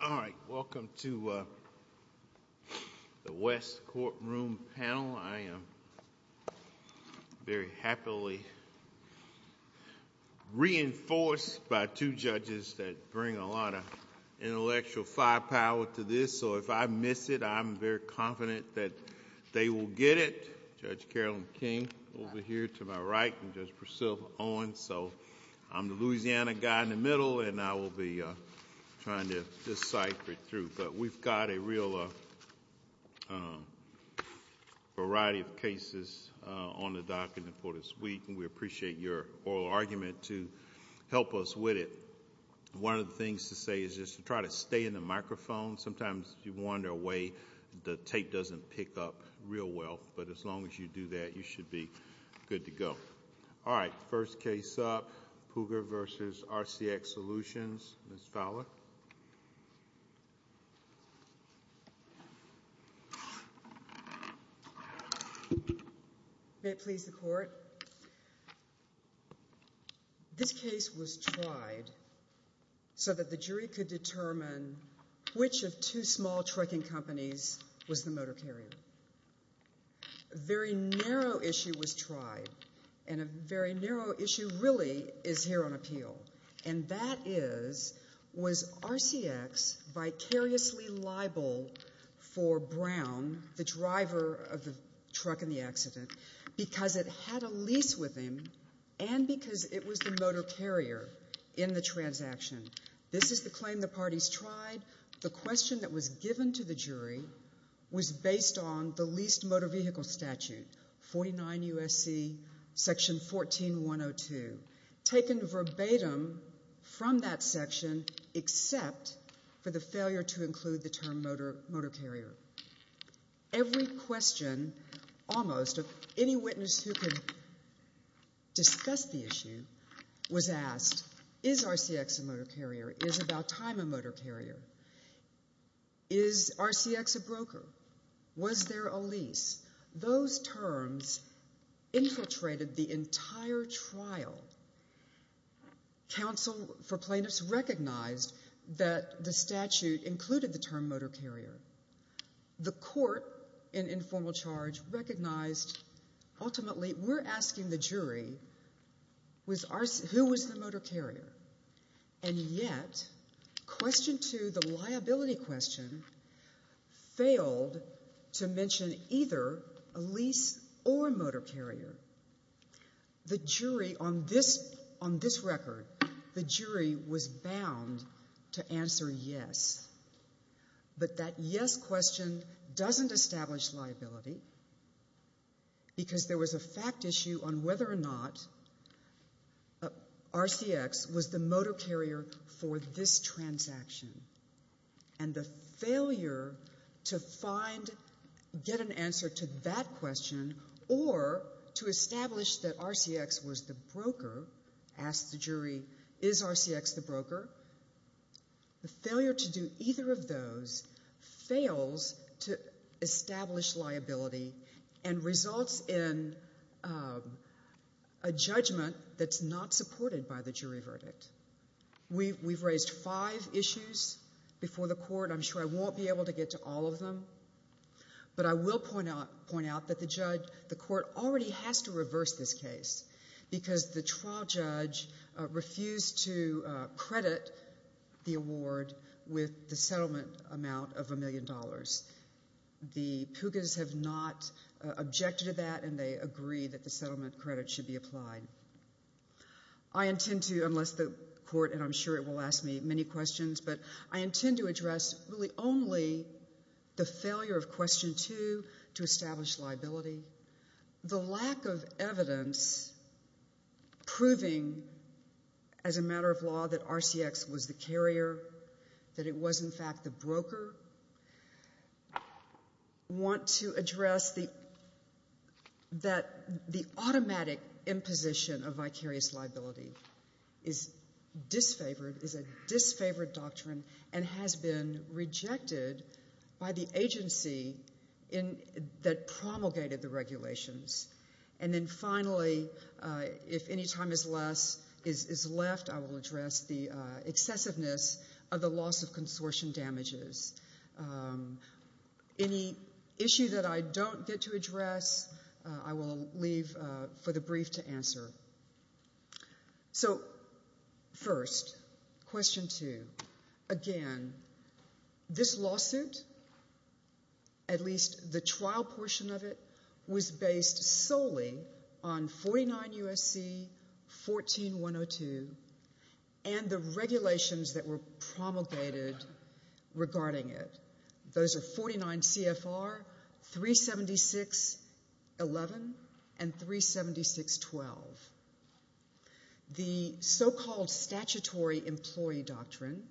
All right. Welcome to the West courtroom panel. I am very happily reinforced by two judges that bring a lot of intellectual firepower to this. So if I miss it, I'm very confident that they will get it. Judge Carolyn King over here to my right and Judge Priscilla Owen. So I'm the Louisiana guy in the middle, and I will be trying to decipher it through. But we've got a real variety of cases on the docket for this week, and we appreciate your oral argument to help us with it. One of the things to say is just to try to stay in the microphone. Sometimes you wander away. The tape doesn't pick up real well, but as long as you do that, you should be good to go. All right. First case up, Puga v. RCX Solutions. Ms. Fowler. May it please the court. This case was tried so that the jury could determine which of two small trucking companies was the motor carrier. A very narrow issue was tried, and a very narrow issue really is here on appeal. And that is, was RCX vicariously liable for Brown, the driver of the truck in the accident, because it had a lease with him and because it was the motor carrier in the transaction? This is the claim the parties tried. The question that was given to the jury was based on the leased motor vehicle statute, 49 U.S.C. section 14102, taken verbatim from that section except for the failure to include the term motor carrier. Every question, almost, any witness who could discuss the issue was asked, is RCX a motor carrier? Is about time a motor carrier? Is RCX a broker? Was there a lease? Those terms infiltrated the entire trial. Counsel for plaintiffs recognized that the statute included the term motor carrier. The court in informal charge recognized, ultimately, we're asking the jury, who was the motor carrier? And yet, question two, the liability question, failed to mention either a lease or a motor carrier. The jury on this record, the jury was bound to answer yes. But that yes question doesn't establish liability because there was a fact issue on whether or not RCX was the motor carrier for this transaction. And the failure to find, get an answer to that broker, the failure to do either of those fails to establish liability and results in a judgment that's not supported by the jury verdict. We've raised five issues before the court. I'm sure I won't be able to get to all of them. But I will point out that the judge, the court already has to reverse this case because the trial judge refused to credit the award with the settlement amount of a million dollars. The PUGAs have not objected to that, and they agree that the settlement credit should be applied. I intend to, unless the court, and I'm sure it will ask me many questions, but I intend to address really only the failure of vicarious liability, the lack of evidence proving as a matter of law that RCX was the carrier, that it was in fact the broker. I want to address that the automatic imposition of vicarious liability promulgated the regulations. And then finally, if any time is left, I will address the excessiveness of the loss of consortium damages. Any issue that I don't get to address, I will leave for the brief to answer. So first, question two. Again, this lawsuit, at least the trial portion of it, was based solely on 49 U.S.C. 14-102 and the regulations that were promulgated regarding it. Those are 49 CFR 376-11 and 376-12. The so-called statutory employee doctrine,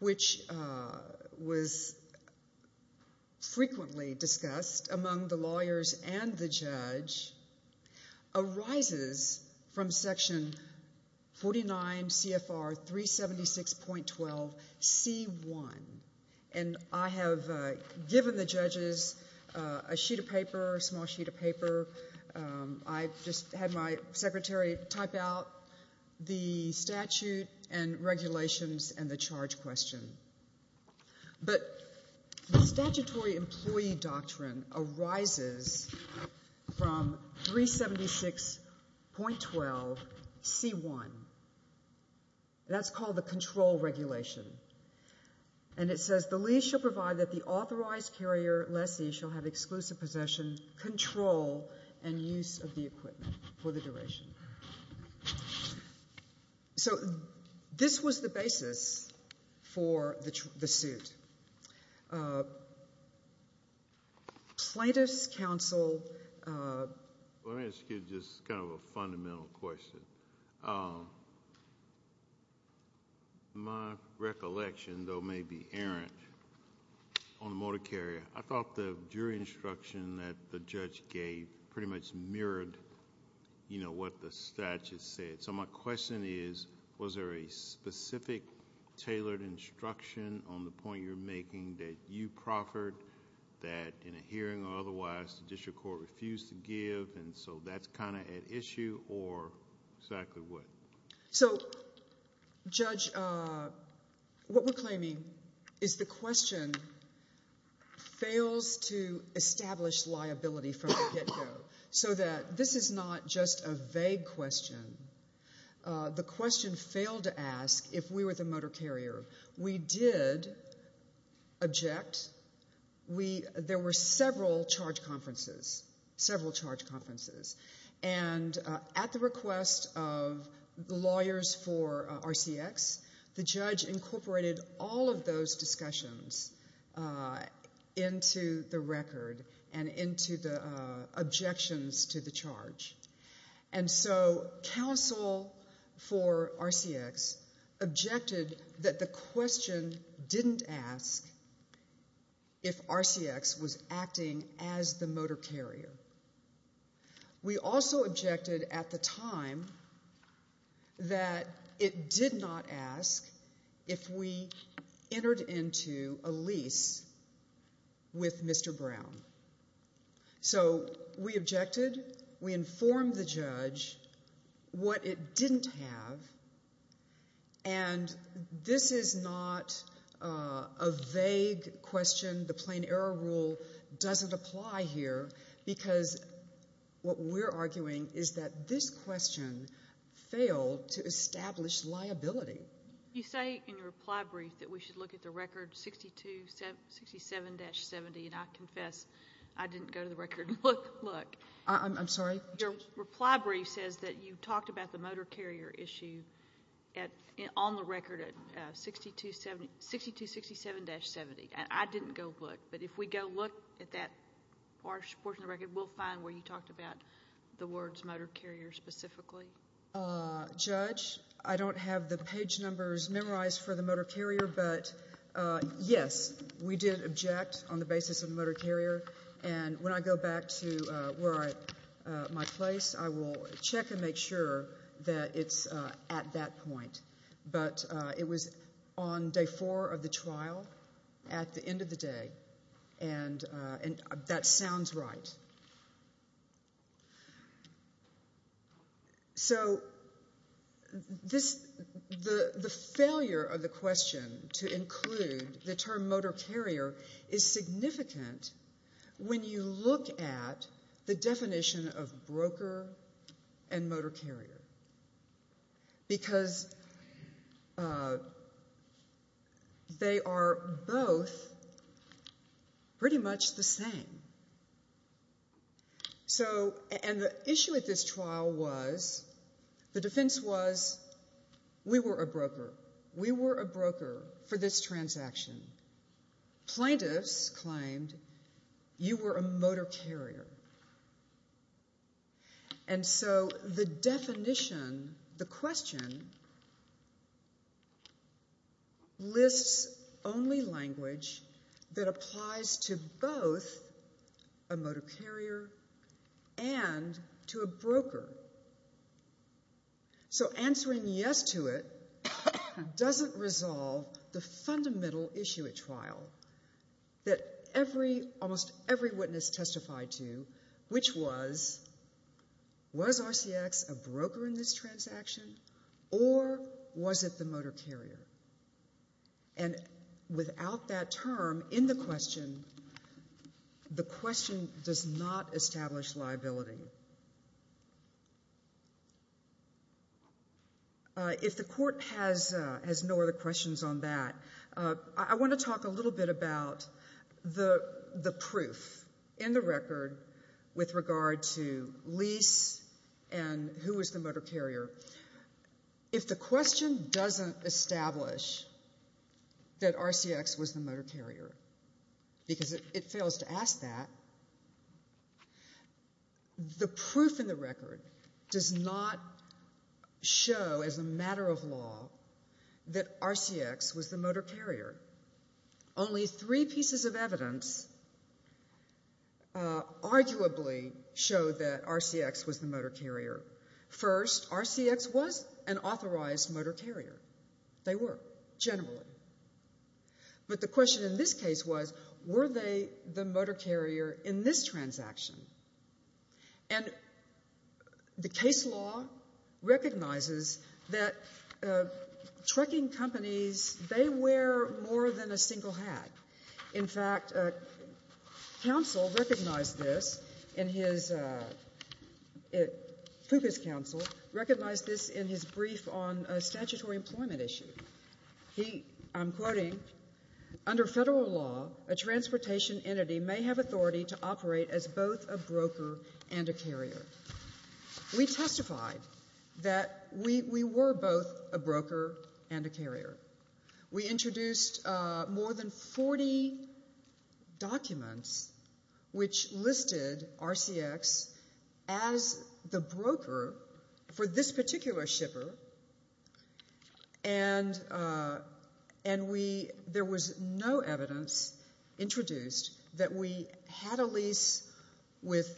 which was frequently discussed among the lawyers and the judge, arises from section 49 CFR 376.12C1. And I have given the judges a sheet of paper, a small sheet of paper. I just had my secretary type out the statute and regulations and the charge question. But the statutory employee doctrine arises from 376.12C1. That's called the control regulation. And it says, the lease shall provide that the authorized carrier lessee shall have exclusive possession, control, and use of the equipment for the duration. So this was the basis for the suit. Plaintiff's counsel— Well, let me ask you just kind of a fundamental question. My recollection, though maybe errant, on the motor carrier, I thought the jury instruction that the judge gave pretty much mirrored what the statute said. So my question is, was there a specific tailored instruction on the point you're making that you proffered, that in a hearing or otherwise the district court refused to give, and so that's kind of at issue, or exactly what? So, Judge, what we're claiming is the question fails to establish liability from the get-go. So that this is not just a vague question. The question failed to ask if we were the motor carrier. We did object. There were several charge conferences, several charge conferences. And at the request of the lawyers for RCX, the judge incorporated all of those discussions into the record and into the objections to the charge. And so counsel for RCX objected that the question didn't ask if RCX was acting as the motor carrier. We also objected at the time that it did not ask if we entered into a lease with Mr. Brown. So we objected. We informed the judge what it didn't have. And this is not a vague question. The plain error rule doesn't apply here because what we're arguing is that this question failed to establish liability. You say in your reply brief that we should look at the record 6267-70, and I confess I didn't go to the record and look. I'm sorry? Your reply brief says that you talked about the motor carrier issue on the record at 6267-70, and I didn't go look. But if we go look at that portion of the record, we'll find where you talked about the words motor carrier specifically. Judge, I don't have the page numbers memorized for the motor carrier, but yes, we did object on the basis of the motor carrier. And when I go back to my place, I will check and make sure that it's at that point. But it was on day four of the trial at the end of the day, and that sounds right. So the failure of the question to include the term motor carrier is significant when you look at the definition of broker and motor carrier. Because they are both pretty much the same. So, and the issue with this trial was, the defense was, we were a broker. We were a broker for this transaction. Plaintiffs claimed you were a motor carrier. And so, the definition, the question, lists only language that applies to both a motor carrier and to a broker. So answering yes to it doesn't resolve the fundamental issue at trial that every, almost every witness testified to, which was, was RCX a broker in this transaction, or was it the motor carrier? And without that term in the question, the question does not establish liability. If the court has no other questions on that, I want to talk a little bit about the proof in the record with regard to lease and who was the motor carrier. If the question doesn't establish that RCX was the motor carrier, because it fails to ask that, the proof in the record does not show, as a matter of law, that RCX was the motor carrier. Only three pieces of evidence arguably show that RCX was the motor carrier. First, RCX was an authorized motor carrier. They were, generally. But the question in this case was, were they the motor carrier in this transaction? And the case law recognizes that trucking companies, they wear more than a single hat. In fact, counsel recognized this in his, Pucas counsel recognized this in his brief on a statutory employment issue. He, I'm quoting, under federal law, a transportation entity may have authority to operate as both a broker and a carrier. We testified that we were both a broker and a carrier. We introduced more than 40 documents which listed RCX as the broker for this particular shipper. And we, there was no evidence introduced that we had a lease with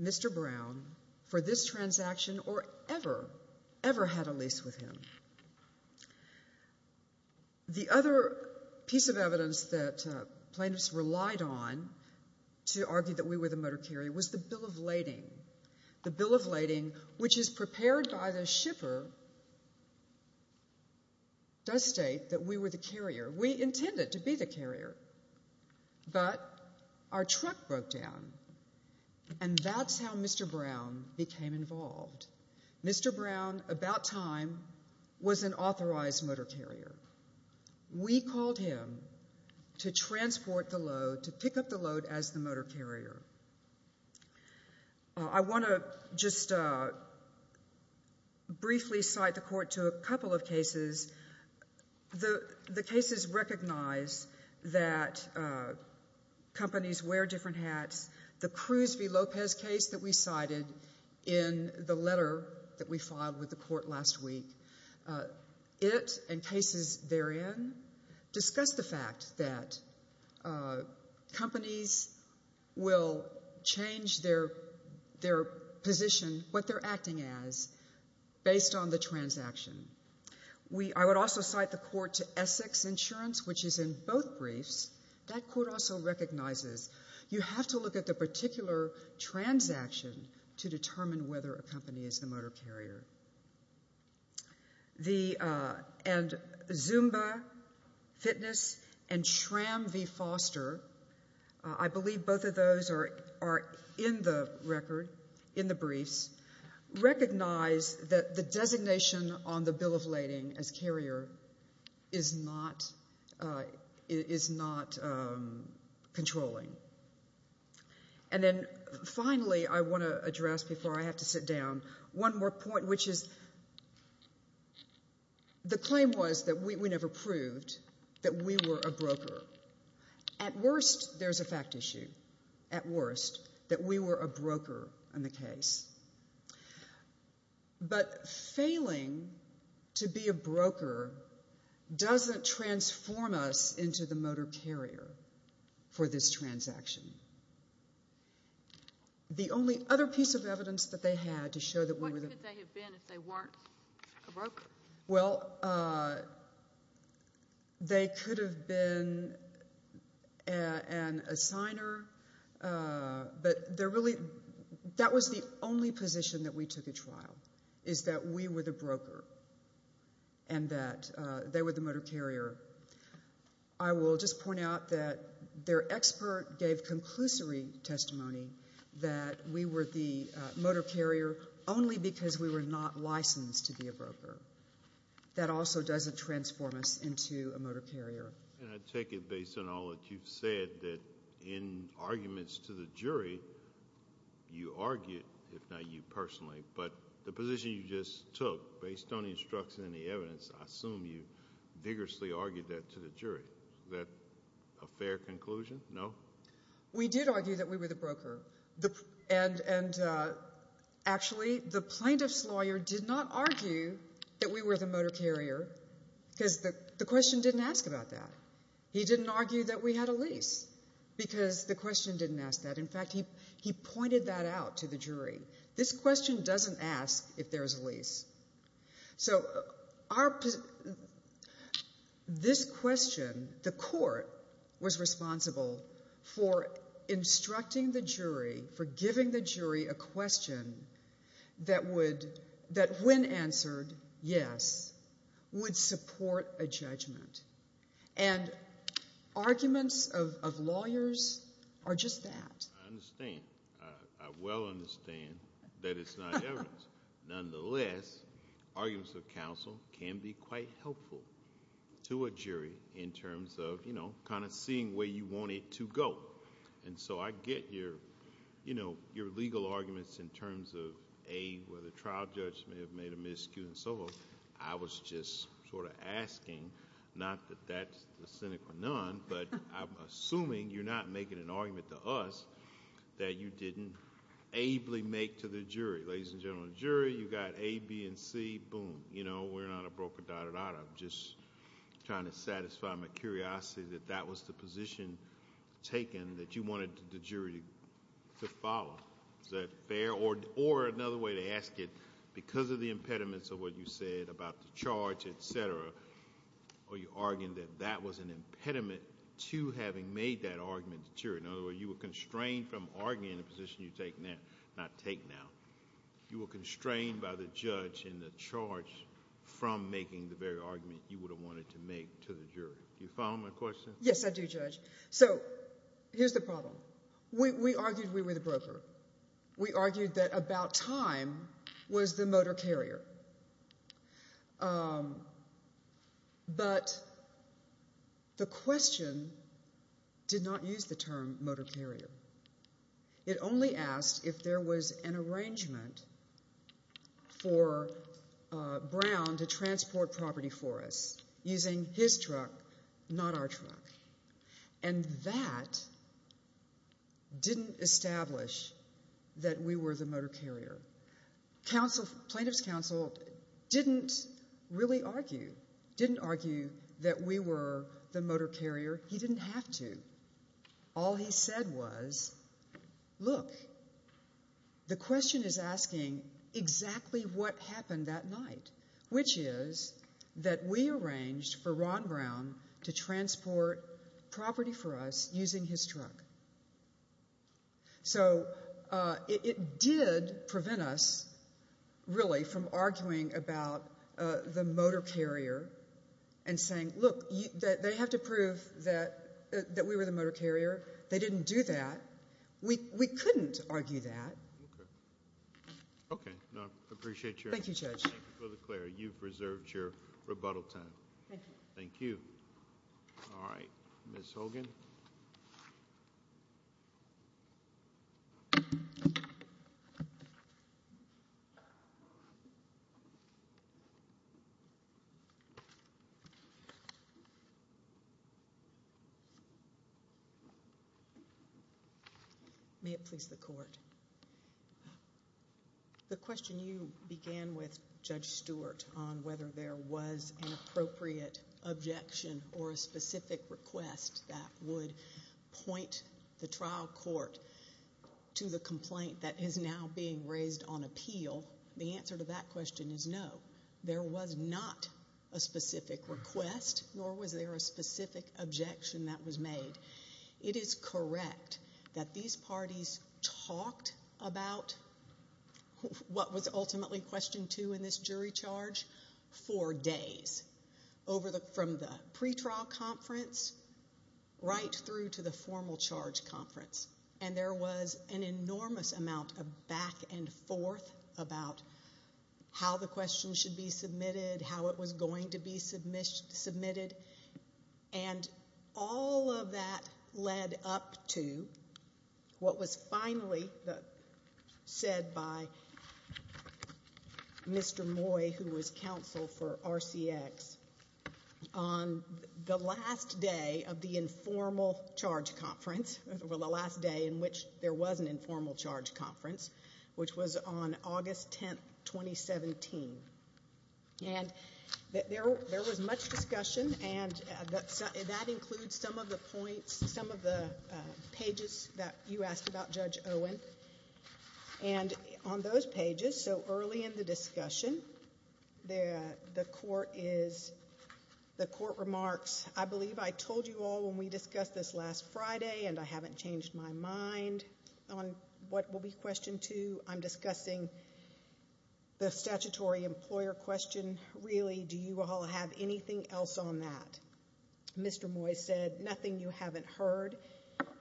Mr. Brown for this transaction or ever, ever had a lease with him. The other piece of evidence that plaintiffs relied on to argue that we were the motor carrier was the bill of lading. The bill of lading, which is prepared by the shipper, does state that we were the carrier. We intended to be the carrier. But our truck broke down. And that's how Mr. Brown became involved. Mr. Brown, about time, was an authorized motor carrier. We called him to transport the load, to pick up the load as the motor carrier. I want to just briefly cite the court to a couple of cases. The cases recognize that companies wear different hats. The Cruz v. Lopez case that we cited in the letter that we filed with the court last week, it and cases therein discuss the fact that companies will change their position, what they're acting as, based on the transaction. I would also cite the court to Essex Insurance, which is in both briefs. That court also recognizes you have to look at the particular transaction to determine whether a company is the motor carrier. And Zumba Fitness and SRAM v. Foster, I believe both of those are in the record, in the briefs, recognize that the designation on the bill of lading as carrier is not controlling. And then finally, I want to address before I have to sit down, one more point, which is the claim was that we never proved that we were a broker. At worst, there's a fact issue. At worst, that we were a broker in the case. But failing to be a broker doesn't transform us into the motor carrier for this transaction. The only other piece of evidence that they had to show that we were... What could they have been if they weren't a broker? Well, they could have been an assigner, but they're really... That was the only position that we took at trial, is that we were the broker and that they were the motor carrier. I will just point out that their expert gave conclusory testimony that we were the motor carrier only because we were not licensed to be a broker. That also doesn't transform us into a motor carrier. And I take it based on all that you've said that in arguments to the jury, you argued, if not you personally, but the position you just took based on the instruction and the evidence, I assume you vigorously argued that to the jury. Is that a fair conclusion? No? We did argue that we were the broker. And actually, the plaintiff's lawyer did not argue that we were the motor carrier because the question didn't ask about that. He didn't argue that we had a lease because the question didn't ask that. In fact, he pointed that out to the jury. This question doesn't ask if there's a lease. So this question, the court was responsible for instructing the jury, for giving the jury a question that when answered, yes, would support a judgment. And arguments of lawyers are just that. I understand. I well understand that it's not evidence. Nonetheless, arguments of counsel can be quite helpful to a jury in terms of kind of seeing where you want it to go. And so I get your legal arguments in terms of, A, where the trial judge may have made a miscue and so forth. I was just sort of asking, not that that's the cynic or none, but I'm assuming you're not making an argument to us that you didn't ably make to the jury. Ladies and gentlemen of the jury, you got A, B, and C. Boom. You know, we're not a broker, da, da, da. I'm just trying to satisfy my curiosity that that was the position taken that you wanted the jury to follow. Is that fair? Or another way to ask it, because of the impediments of what you said about the charge, et cetera, or you argued that that was an impediment to having made that argument to the jury. In other in the charge from making the very argument you would have wanted to make to the jury. Do you follow my question? Yes, I do, Judge. So here's the problem. We argued we were the broker. We argued that about time was the motor carrier. But the question did not use the term motor carrier. It only asked if there was an arrangement for Brown to transport property for us using his truck, not our truck. And that didn't establish that we were the motor carrier. Plaintiff's counsel didn't really argue, didn't argue that we were the motor carrier. He didn't have to. All he said was, look, the question is asking exactly what happened that night, which is that we arranged for Ron Brown to transport property for us using his truck. So it did prevent us really from arguing about the motor carrier and saying, look, they have to prove that we were the motor carrier. They didn't do that. We couldn't argue that. Okay. I appreciate your time. Thank you, Judge. Thank you for the clarity. You've reserved your rebuttal time. Thank you. Thank you. All right. Ms. Hogan? May it please the Court. The question you began with, Judge Stewart, on whether there was an appropriate objection or a specific request that would point the trial court to the complaint that is now being raised on appeal, the answer to that question is no. There was not a specific request, nor was there a specific objection that was made. It is correct that these parties talked about what was ultimately question two in this jury charge for days, from the pretrial conference right through to the formal charge conference. And there was an enormous amount of back and forth about how the question should be submitted, how it was going to be submitted. And all of that led up to what was finally said by Mr. Moy, who was counsel for RCX, on the last day of the informal charge conference, or the last day in which there was an informal charge conference, which was on August 10, 2017. And there was much discussion, and that includes some of the points, some of the pages that you asked about, Judge Owen. And on those pages, so early in the discussion, the Court remarks, I believe I told you all when we discussed this last Friday, and I haven't questioned two. I'm discussing the statutory employer question. Really, do you all have anything else on that? Mr. Moy said, nothing you haven't heard.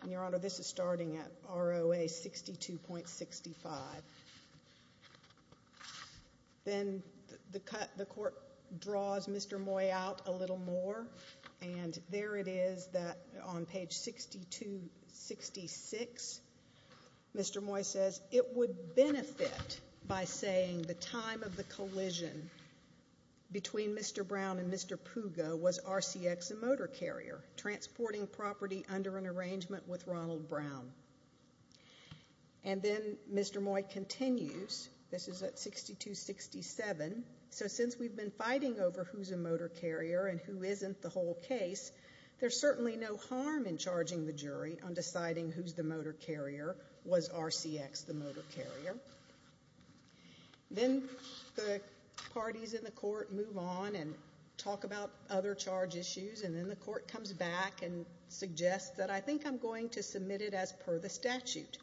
And, Your Honor, this is starting at ROA 62.65. Then the Court draws Mr. Moy out a little more. And there it is, on page 6266, Mr. Moy says, it would benefit by saying the time of the collision between Mr. Brown and Mr. Pugo was RCX a motor carrier, transporting property under an arrangement with Ronald Brown. And then Mr. Moy continues, this is at 62.67, so since we've been fighting over who's a motor carrier and who isn't the whole case, there's certainly no harm in charging the jury on whether or not the motor carrier was RCX the motor carrier. Then the parties in the Court move on and talk about other charge issues, and then the Court comes back and suggests that I think I'm going to submit it as per the statute.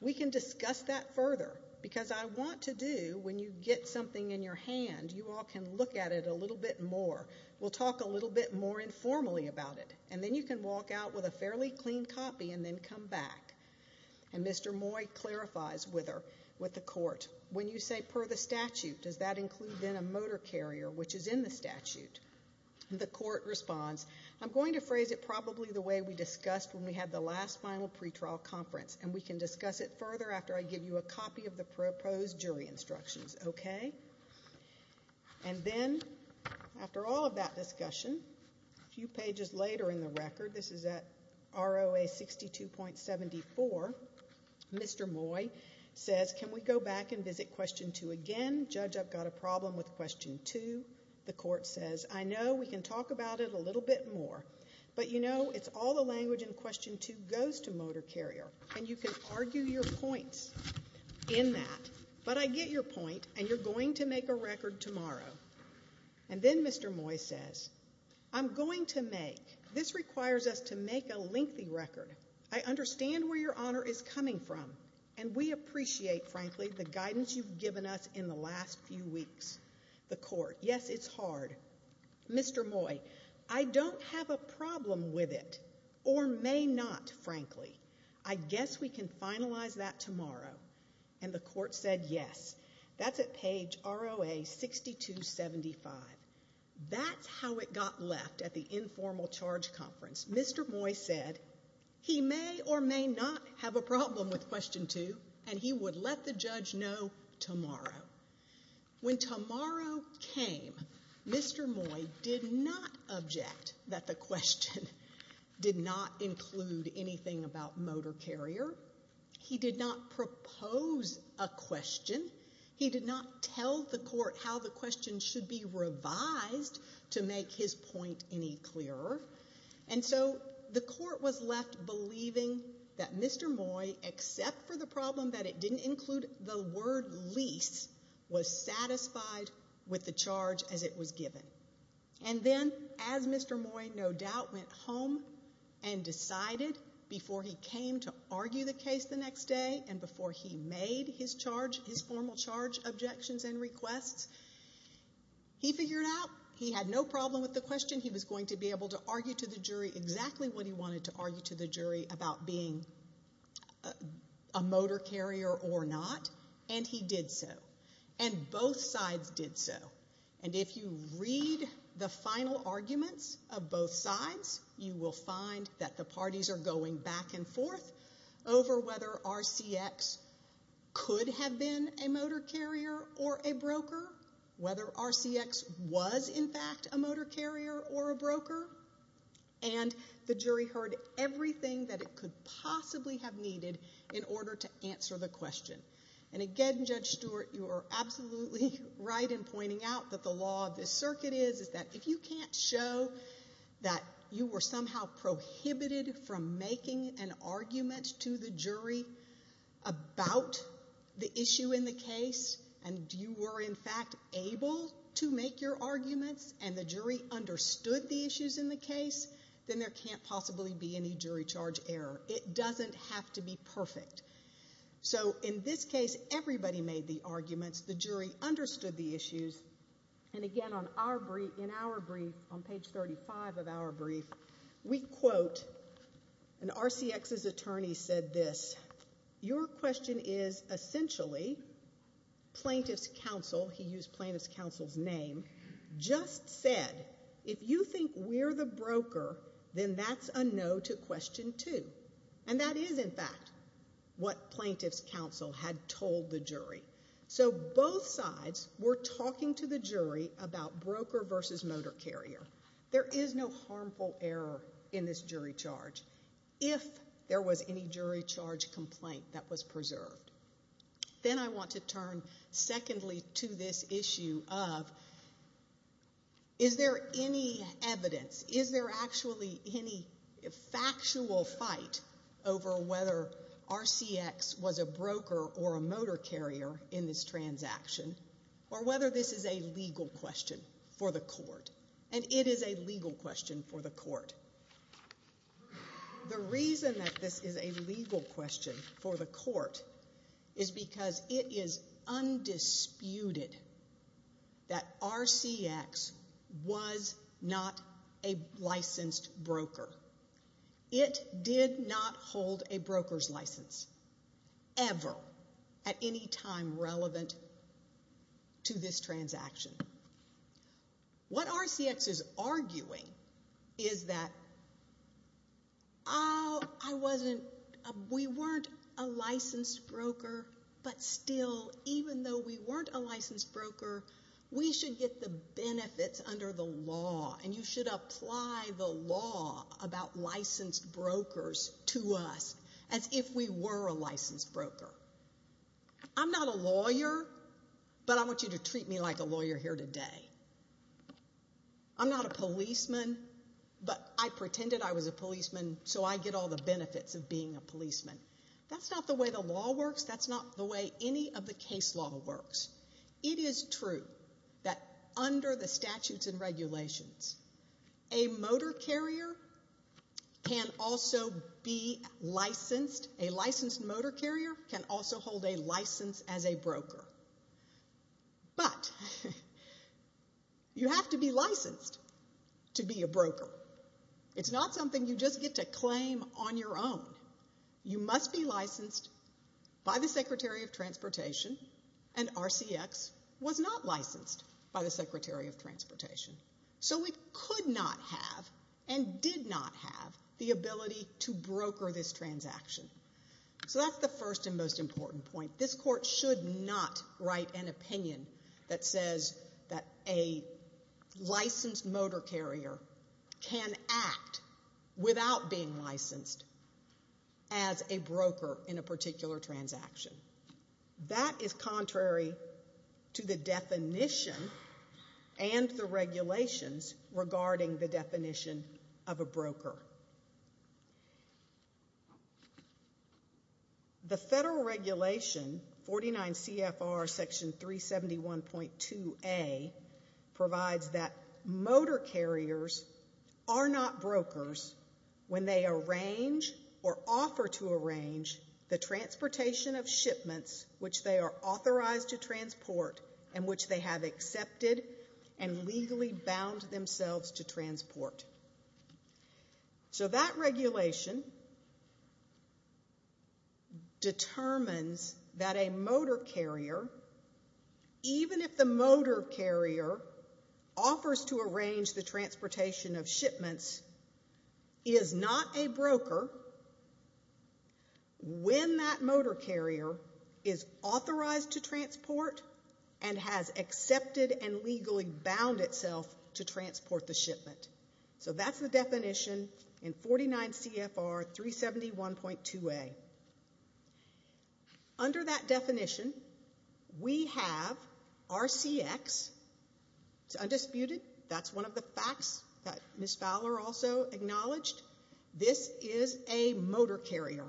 We can discuss that further, because I want to do, when you get something in your hand, you all can look at it a little bit more. We'll talk a little bit more informally about it, and then you can walk out with a fairly clean copy and then come back. And Mr. Moy clarifies with her, with the Court, when you say per the statute, does that include then a motor carrier which is in the statute? The Court responds, I'm going to phrase it probably the way we discussed when we had the last final pretrial conference, and we can discuss it further after I give you a copy of the proposed jury instructions, okay? And then, after all of that discussion, a few pages later in the record, this is at ROA 62.74, Mr. Moy says, can we go back and visit question two again? Judge, I've got a problem with question two. The Court says, I know we can talk about it a little bit more, but you know, it's all the language in question two goes to motor carrier, and you can argue your points in that, but I get your point, and you're going to I'm going to make, this requires us to make a lengthy record. I understand where your honor is coming from, and we appreciate, frankly, the guidance you've given us in the last few weeks. The Court, yes, it's hard. Mr. Moy, I don't have a problem with it, or may not, frankly. I guess we finalize that tomorrow, and the Court said yes. That's at page ROA 62.75. That's how it got left at the informal charge conference. Mr. Moy said he may or may not have a problem with question two, and he would let the judge know tomorrow. When tomorrow came, Mr. Moy did not object that the he did not propose a question. He did not tell the Court how the question should be revised to make his point any clearer, and so the Court was left believing that Mr. Moy, except for the problem that it didn't include the word lease, was satisfied with the charge as it was given, and then, as Mr. Moy no doubt went home and decided before he came to argue the case the next day and before he made his charge, his formal charge objections and requests, he figured out he had no problem with the question. He was going to be able to argue to the jury exactly what he wanted to argue to the jury about being a motor carrier or not, and he did so, and both sides did so, and if you read the final arguments of both sides, you will find that the parties are going back and forth over whether RCX could have been a motor carrier or a broker, whether RCX was in fact a motor carrier or a broker, and the jury heard everything that it could possibly have needed in order to answer the question, and again, Judge Stewart, you are absolutely right in pointing out that the law of this circuit is that if you can't show that you were somehow prohibited from making an argument to the jury about the issue in the case and you were in fact able to make your arguments and the jury understood the issues in the case, then there can't possibly be any jury charge error. It everybody made the arguments. The jury understood the issues, and again, in our brief, on page 35 of our brief, we quote, and RCX's attorney said this, your question is essentially plaintiff's counsel, he used plaintiff's counsel's name, just said, if you think we're the broker, then that's a no to question two, and that is in fact what plaintiff's counsel had told the jury. So both sides were talking to the jury about broker versus motor carrier. There is no harmful error in this jury charge if there was any jury charge complaint that was preserved. Then I want to turn secondly to this issue of is there any evidence, is there actually any factual fight over whether RCX was a broker or a motor carrier in this transaction, or whether this is a legal question for the court, and it is a legal question for the court. The reason that this is a legal question for the court is because it is undisputed that RCX was not a licensed broker. It did not hold a broker's license ever at any time relevant to this transaction. What RCX is arguing is that, oh, I wasn't, we weren't a licensed broker, but still, even though we weren't a licensed broker, we should get the benefits under the law, and you should apply the law about licensed brokers to us as if we were a licensed broker. I'm not a lawyer, but I want you to treat me like a lawyer here today. I'm not a policeman, but I pretended I was a policeman so I get all the benefits of being a policeman. That's not the way the law works. That's not the way any of the case law works. It is true that under the statutes and regulations, a motor carrier can also be licensed. A licensed motor carrier can also hold a license as a broker, but you have to be licensed to be a broker. It's not something you just get to claim on your own. You must be licensed by the Secretary of Transportation, and RCX was not licensed by the Secretary of Transportation, so it could not have and did not have the ability to broker this transaction. So that's the first and most important point. This court should not write an opinion that says that a licensed motor carrier can act without being licensed as a broker in a particular transaction. That is contrary to the definition and the rules of the court. The federal regulation, 49 CFR section 371.2A, provides that motor carriers are not brokers when they arrange or offer to arrange the transportation of shipments which they are authorized to transport and which they have accepted and legally bound themselves to So that regulation determines that a motor carrier, even if the motor carrier offers to arrange the transportation of shipments, is not a broker when that motor carrier is authorized to transport and has accepted and 49 CFR 371.2A. Under that definition, we have RCX. It's undisputed. That's one of the facts that Ms. Fowler also acknowledged. This is a motor carrier,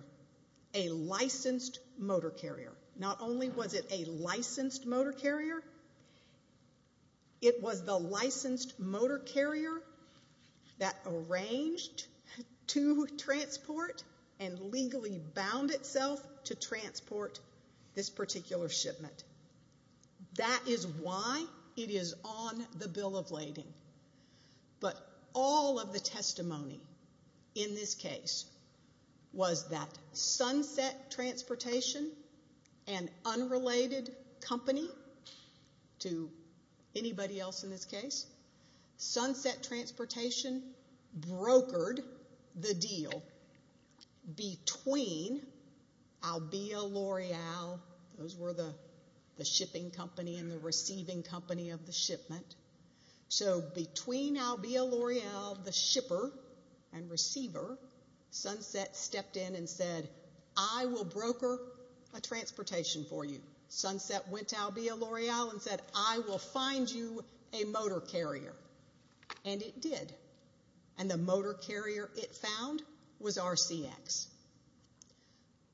a licensed motor carrier. Not only was it a licensed motor carrier, it was the licensed motor carrier that arranged to transport and legally bound itself to transport this particular shipment. That is why it is on the bill of lading. But all of the testimony in this case was that Sunset Transportation, an unrelated company to anybody else in this case, Sunset Transportation brokered the deal between Albia L'Oreal, those Albia L'Oreal, the shipper and receiver, Sunset stepped in and said I will broker a transportation for you. Sunset went to Albia L'Oreal and said I will find you a motor carrier. And it did. And the motor carrier it found was RCX.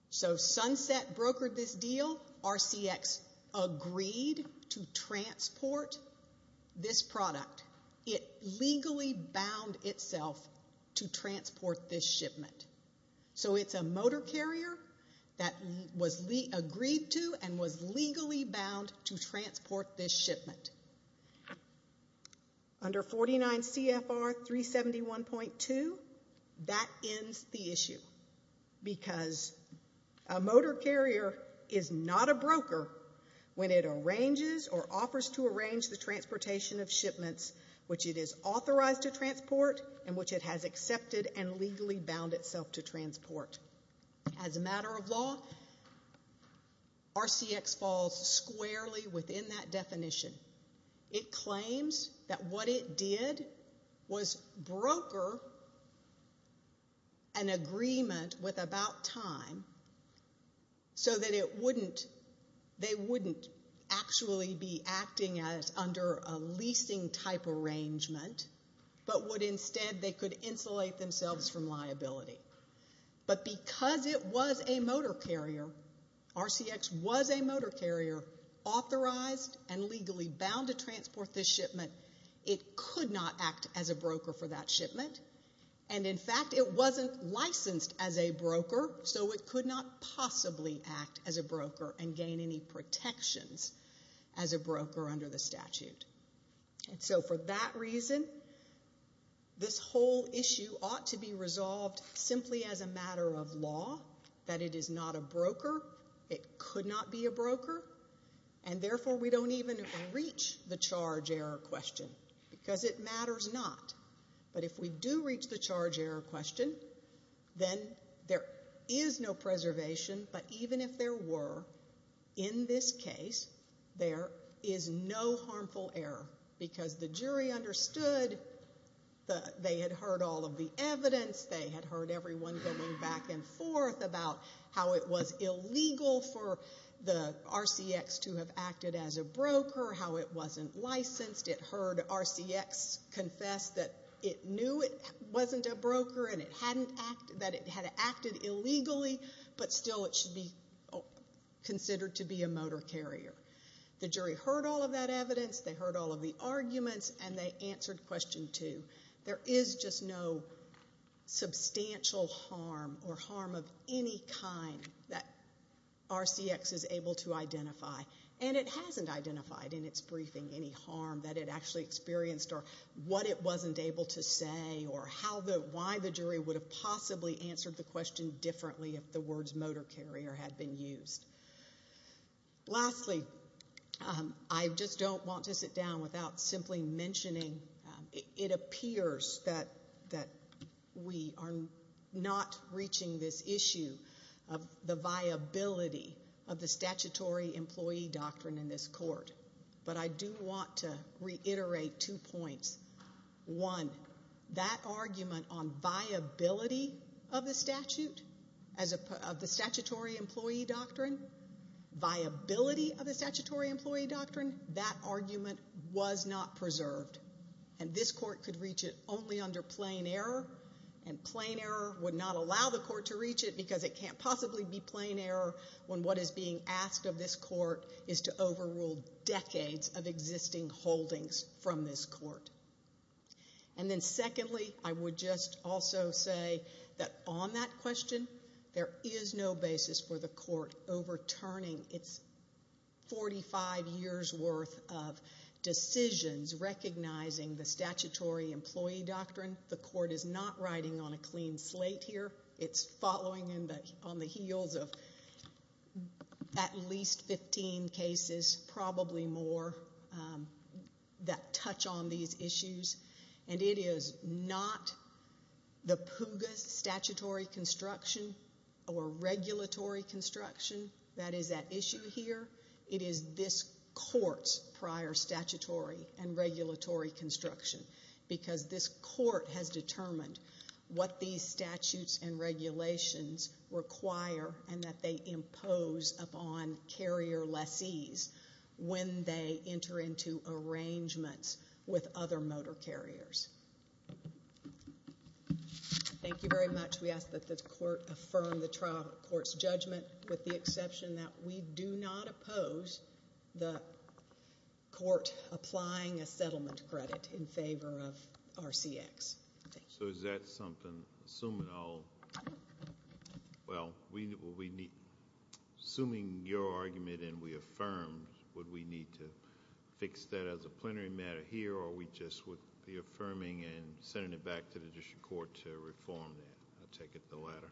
So Sunset brokered this deal. RCX agreed to transport this product. It legally bound itself to transport this shipment. So it's a motor carrier that was agreed to and was legally bound to transport this shipment. Under 49 CFR 371.2, that ends the issue. Because a motor carrier is not a broker when it arranges or offers to arrange the transportation of shipments which it is authorized to transport and which it has accepted and legally bound itself to transport. As a matter of law, RCX falls squarely within that definition. It claims that what it did was broker an agreement with about time so that it wouldn't, they wouldn't actually be acting as under a leasing type arrangement, but would instead, they could insulate themselves from liability. But because it was a motor carrier, RCX was a motor carrier authorized and legally bound to transport this shipment, it could not act as a broker for that shipment. And in fact, it wasn't licensed as a broker, so it could not possibly act as a broker and gain any protections as a broker under the statute. And so for that reason, this whole issue ought to be resolved simply as a matter of law, that it is not a broker. It could not be a broker. And therefore, we don't even reach the charge error question, because it matters not. But if we do reach the charge error question, then there is no preservation. But even if there were, in this case, there is no harmful error, because the jury understood that they had heard all of the evidence, they had heard everyone going back and forth about how it was illegal for the RCX to have acted as a broker, how it wasn't licensed, it heard RCX confess that it knew it wasn't a broker and that it had acted illegally, but still it should be considered to be a motor carrier. The jury heard all of that evidence, they heard all of the arguments, and they answered question two. There is just no substantial harm or harm of any kind that RCX is able to identify. And it hasn't identified in its briefing any harm that it actually experienced or what it wasn't able to say or how the why the jury would have possibly answered the question differently if the words motor carrier had been used. Lastly, I just don't want to sit down without simply mentioning, it appears that we are not reaching this issue of the viability of the statutory employee doctrine in this court. But I do want to reiterate two points. One, that argument on viability of the statute, of the statutory employee doctrine, viability of the statutory employee doctrine is not preserved. And this court could reach it only under plain error, and plain error would not allow the court to reach it because it can't possibly be plain error when what is being asked of this court is to overrule decades of existing holdings from this court. And then secondly, I would just also say that on that question, there is no basis for the court overturning its 45 years' worth of decisions recognizing the statutory employee doctrine. The court is not riding on a clean slate here. It's following on the heels of at least 15 cases, probably more, that touch on these issues. And it is not the PUGAS statutory construction or regulatory construction that is at issue here. It is this court's prior statutory and regulatory construction because this court has determined what these statutes and regulations require and that they impose upon carrier lessees when they enter into arrangements with other motor carriers. Thank you very much. We ask that the court affirm the trial court's judgment with the exception that we do not oppose the court applying a settlement credit in favor of RCX. So is that something, assuming all, well, we need, assuming your argument and we affirmed would we need to fix that as a plenary matter here or we just would be affirming and sending it back to the district court to reform that? I'll take it the latter.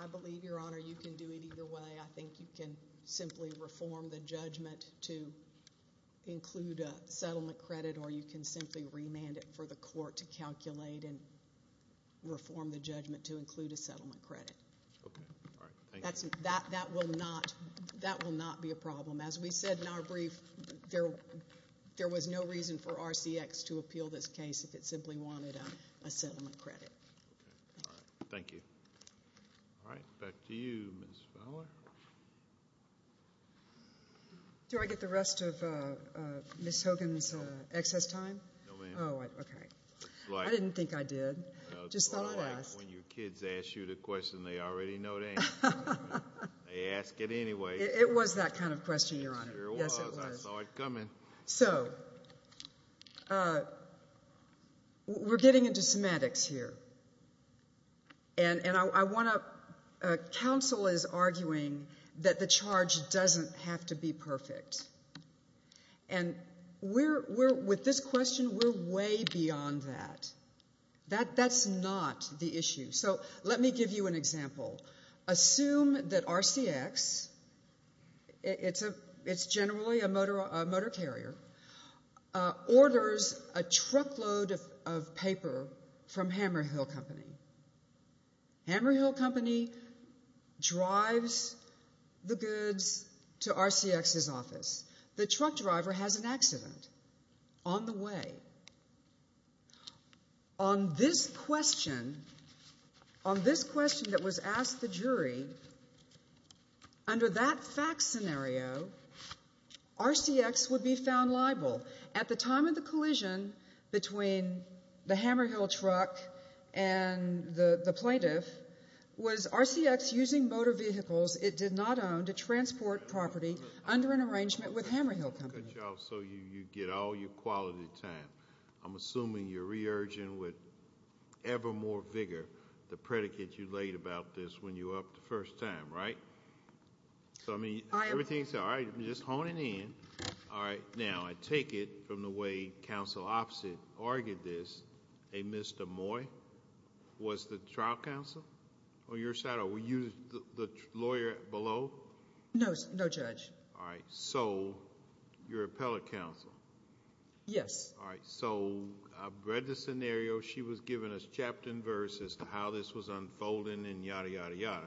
I believe, your honor, you can do it either way. I think you can simply reform the judgment to include a settlement credit or you can simply remand it for the court to calculate and reform the judgment to include a settlement credit. Okay. All right. Thank you. That will not be a problem. As we said in our brief, there was no reason for RCX to appeal this case if it simply wanted a settlement credit. Okay. All right. Thank you. All right. Back to you, Ms. Fowler. Do I get the rest of Ms. Hogan's excess time? No, ma'am. Oh, okay. I didn't think I did. When your kids ask you the question, they already know the answer. They ask it anyway. It was that kind of question, your honor. Yes, it was. I saw it coming. So we're getting into semantics here. And I want to, counsel is arguing that the charge doesn't have to be perfect. And we're, with this question, we're way beyond that. That's not the issue. So let me give you an example. Assume that RCX, it's generally a motor carrier, orders a truckload of paper from Hammer Hill Company. Hammer Hill Company drives the goods to RCX's office. The truck driver has an accident on the way. On this question, on this question that was asked the jury, under that fact scenario, RCX would be found liable. At the time of the collision between the Hammer Hill truck and the plaintiff, was RCX using motor vehicles it did not own to transport property under an arrangement with Hammer Hill Company. So you get all your quality time. I'm assuming you're re-urging with ever more vigor the predicate you laid about this when you were up the first time, right? So I mean, everything's, all right, I'm just honing in. All right, now I take it from the way counsel opposite argued this, a Mr. Moy, was the trial counsel on your side, or were you the lawyer below? No, no judge. All right, so your appellate counsel. Yes. All right, so I read the scenario. She was giving us chapter and verse as to how this was unfolding and yada, yada, yada.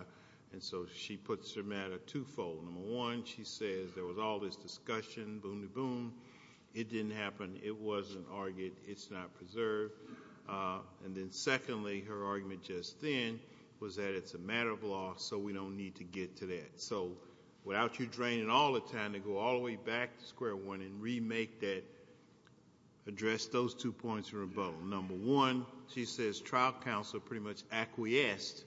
And so she puts her matter twofold. Number one, she says there was all this discussion, boom to boom. It didn't happen. It wasn't argued. It's not preserved. And then secondly, her argument just then was that it's a matter of law, so we don't need to get to that. So without you draining all the time to go all the way back to square one and remake that, address those two points of rebuttal. Number one, she says trial counsel pretty much acquiesced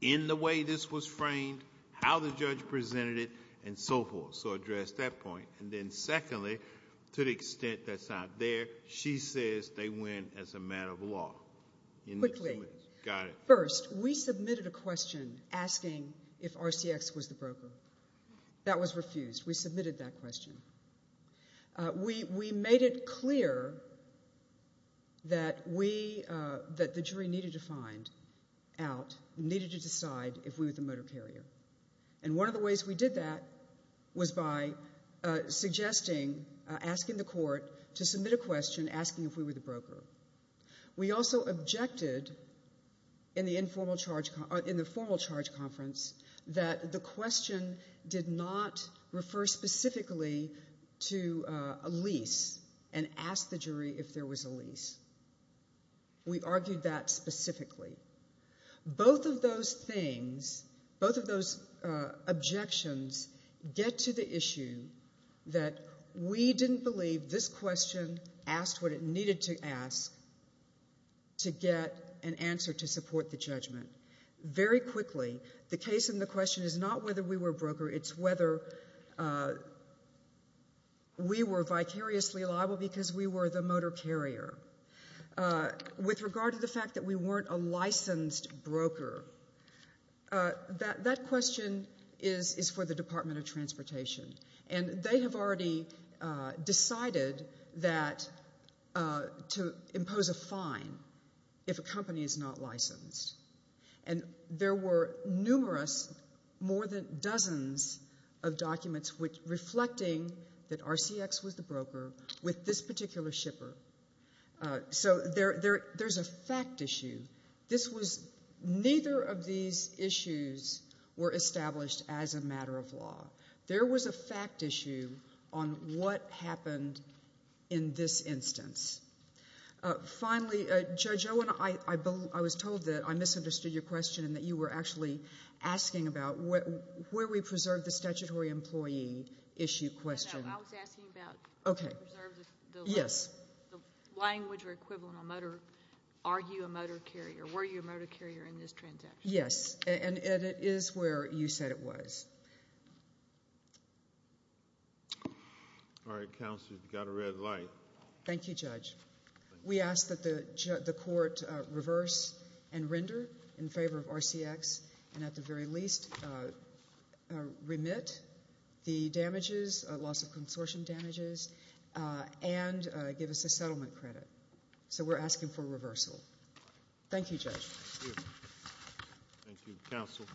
in the way this was framed, how the judge presented it, and so forth. So address that point. And then secondly, to the extent that's not there, she says they went as a matter of law. Quickly. Got it. First, we submitted a question asking if RCX was the broker. That was refused. We submitted that question. We made it clear that we, that the jury needed to find out, needed to decide if we were the motor carrier. And one of the ways we did that was by suggesting, asking the court to submit a question asking if we were the broker. We also objected in the informal charge, in the formal charge conference, that the question did not refer specifically to a lease and ask the jury if there was a lease. We argued that specifically. Both of those things, both of those objections get to the issue that we didn't believe this question asked what it needed to ask to get an answer to support the judgment. Very quickly, the case in the question is not whether we were a broker, it's whether we were vicariously liable because we were the question is for the Department of Transportation. And they have already decided that, to impose a fine if a company is not licensed. And there were numerous, more than dozens of documents reflecting that RCX was the broker with this particular shipper. So, there's a fact issue. This was, neither of these issues were established as a matter of law. There was a fact issue on what happened in this instance. Finally, Judge Owen, I was told that I misunderstood your question and that you were actually asking about where we preserve the language or equivalent on motor, are you a motor carrier, were you a motor carrier in this transaction? Yes, and it is where you said it was. All right, counsel, you've got a red light. Thank you, Judge. We ask that the court reverse and render in favor of RCX and at the very least remit the damages, loss of consortium damages, and give us a settlement credit. So, we're asking for reversal. Thank you, Judge. Thank you, counsel.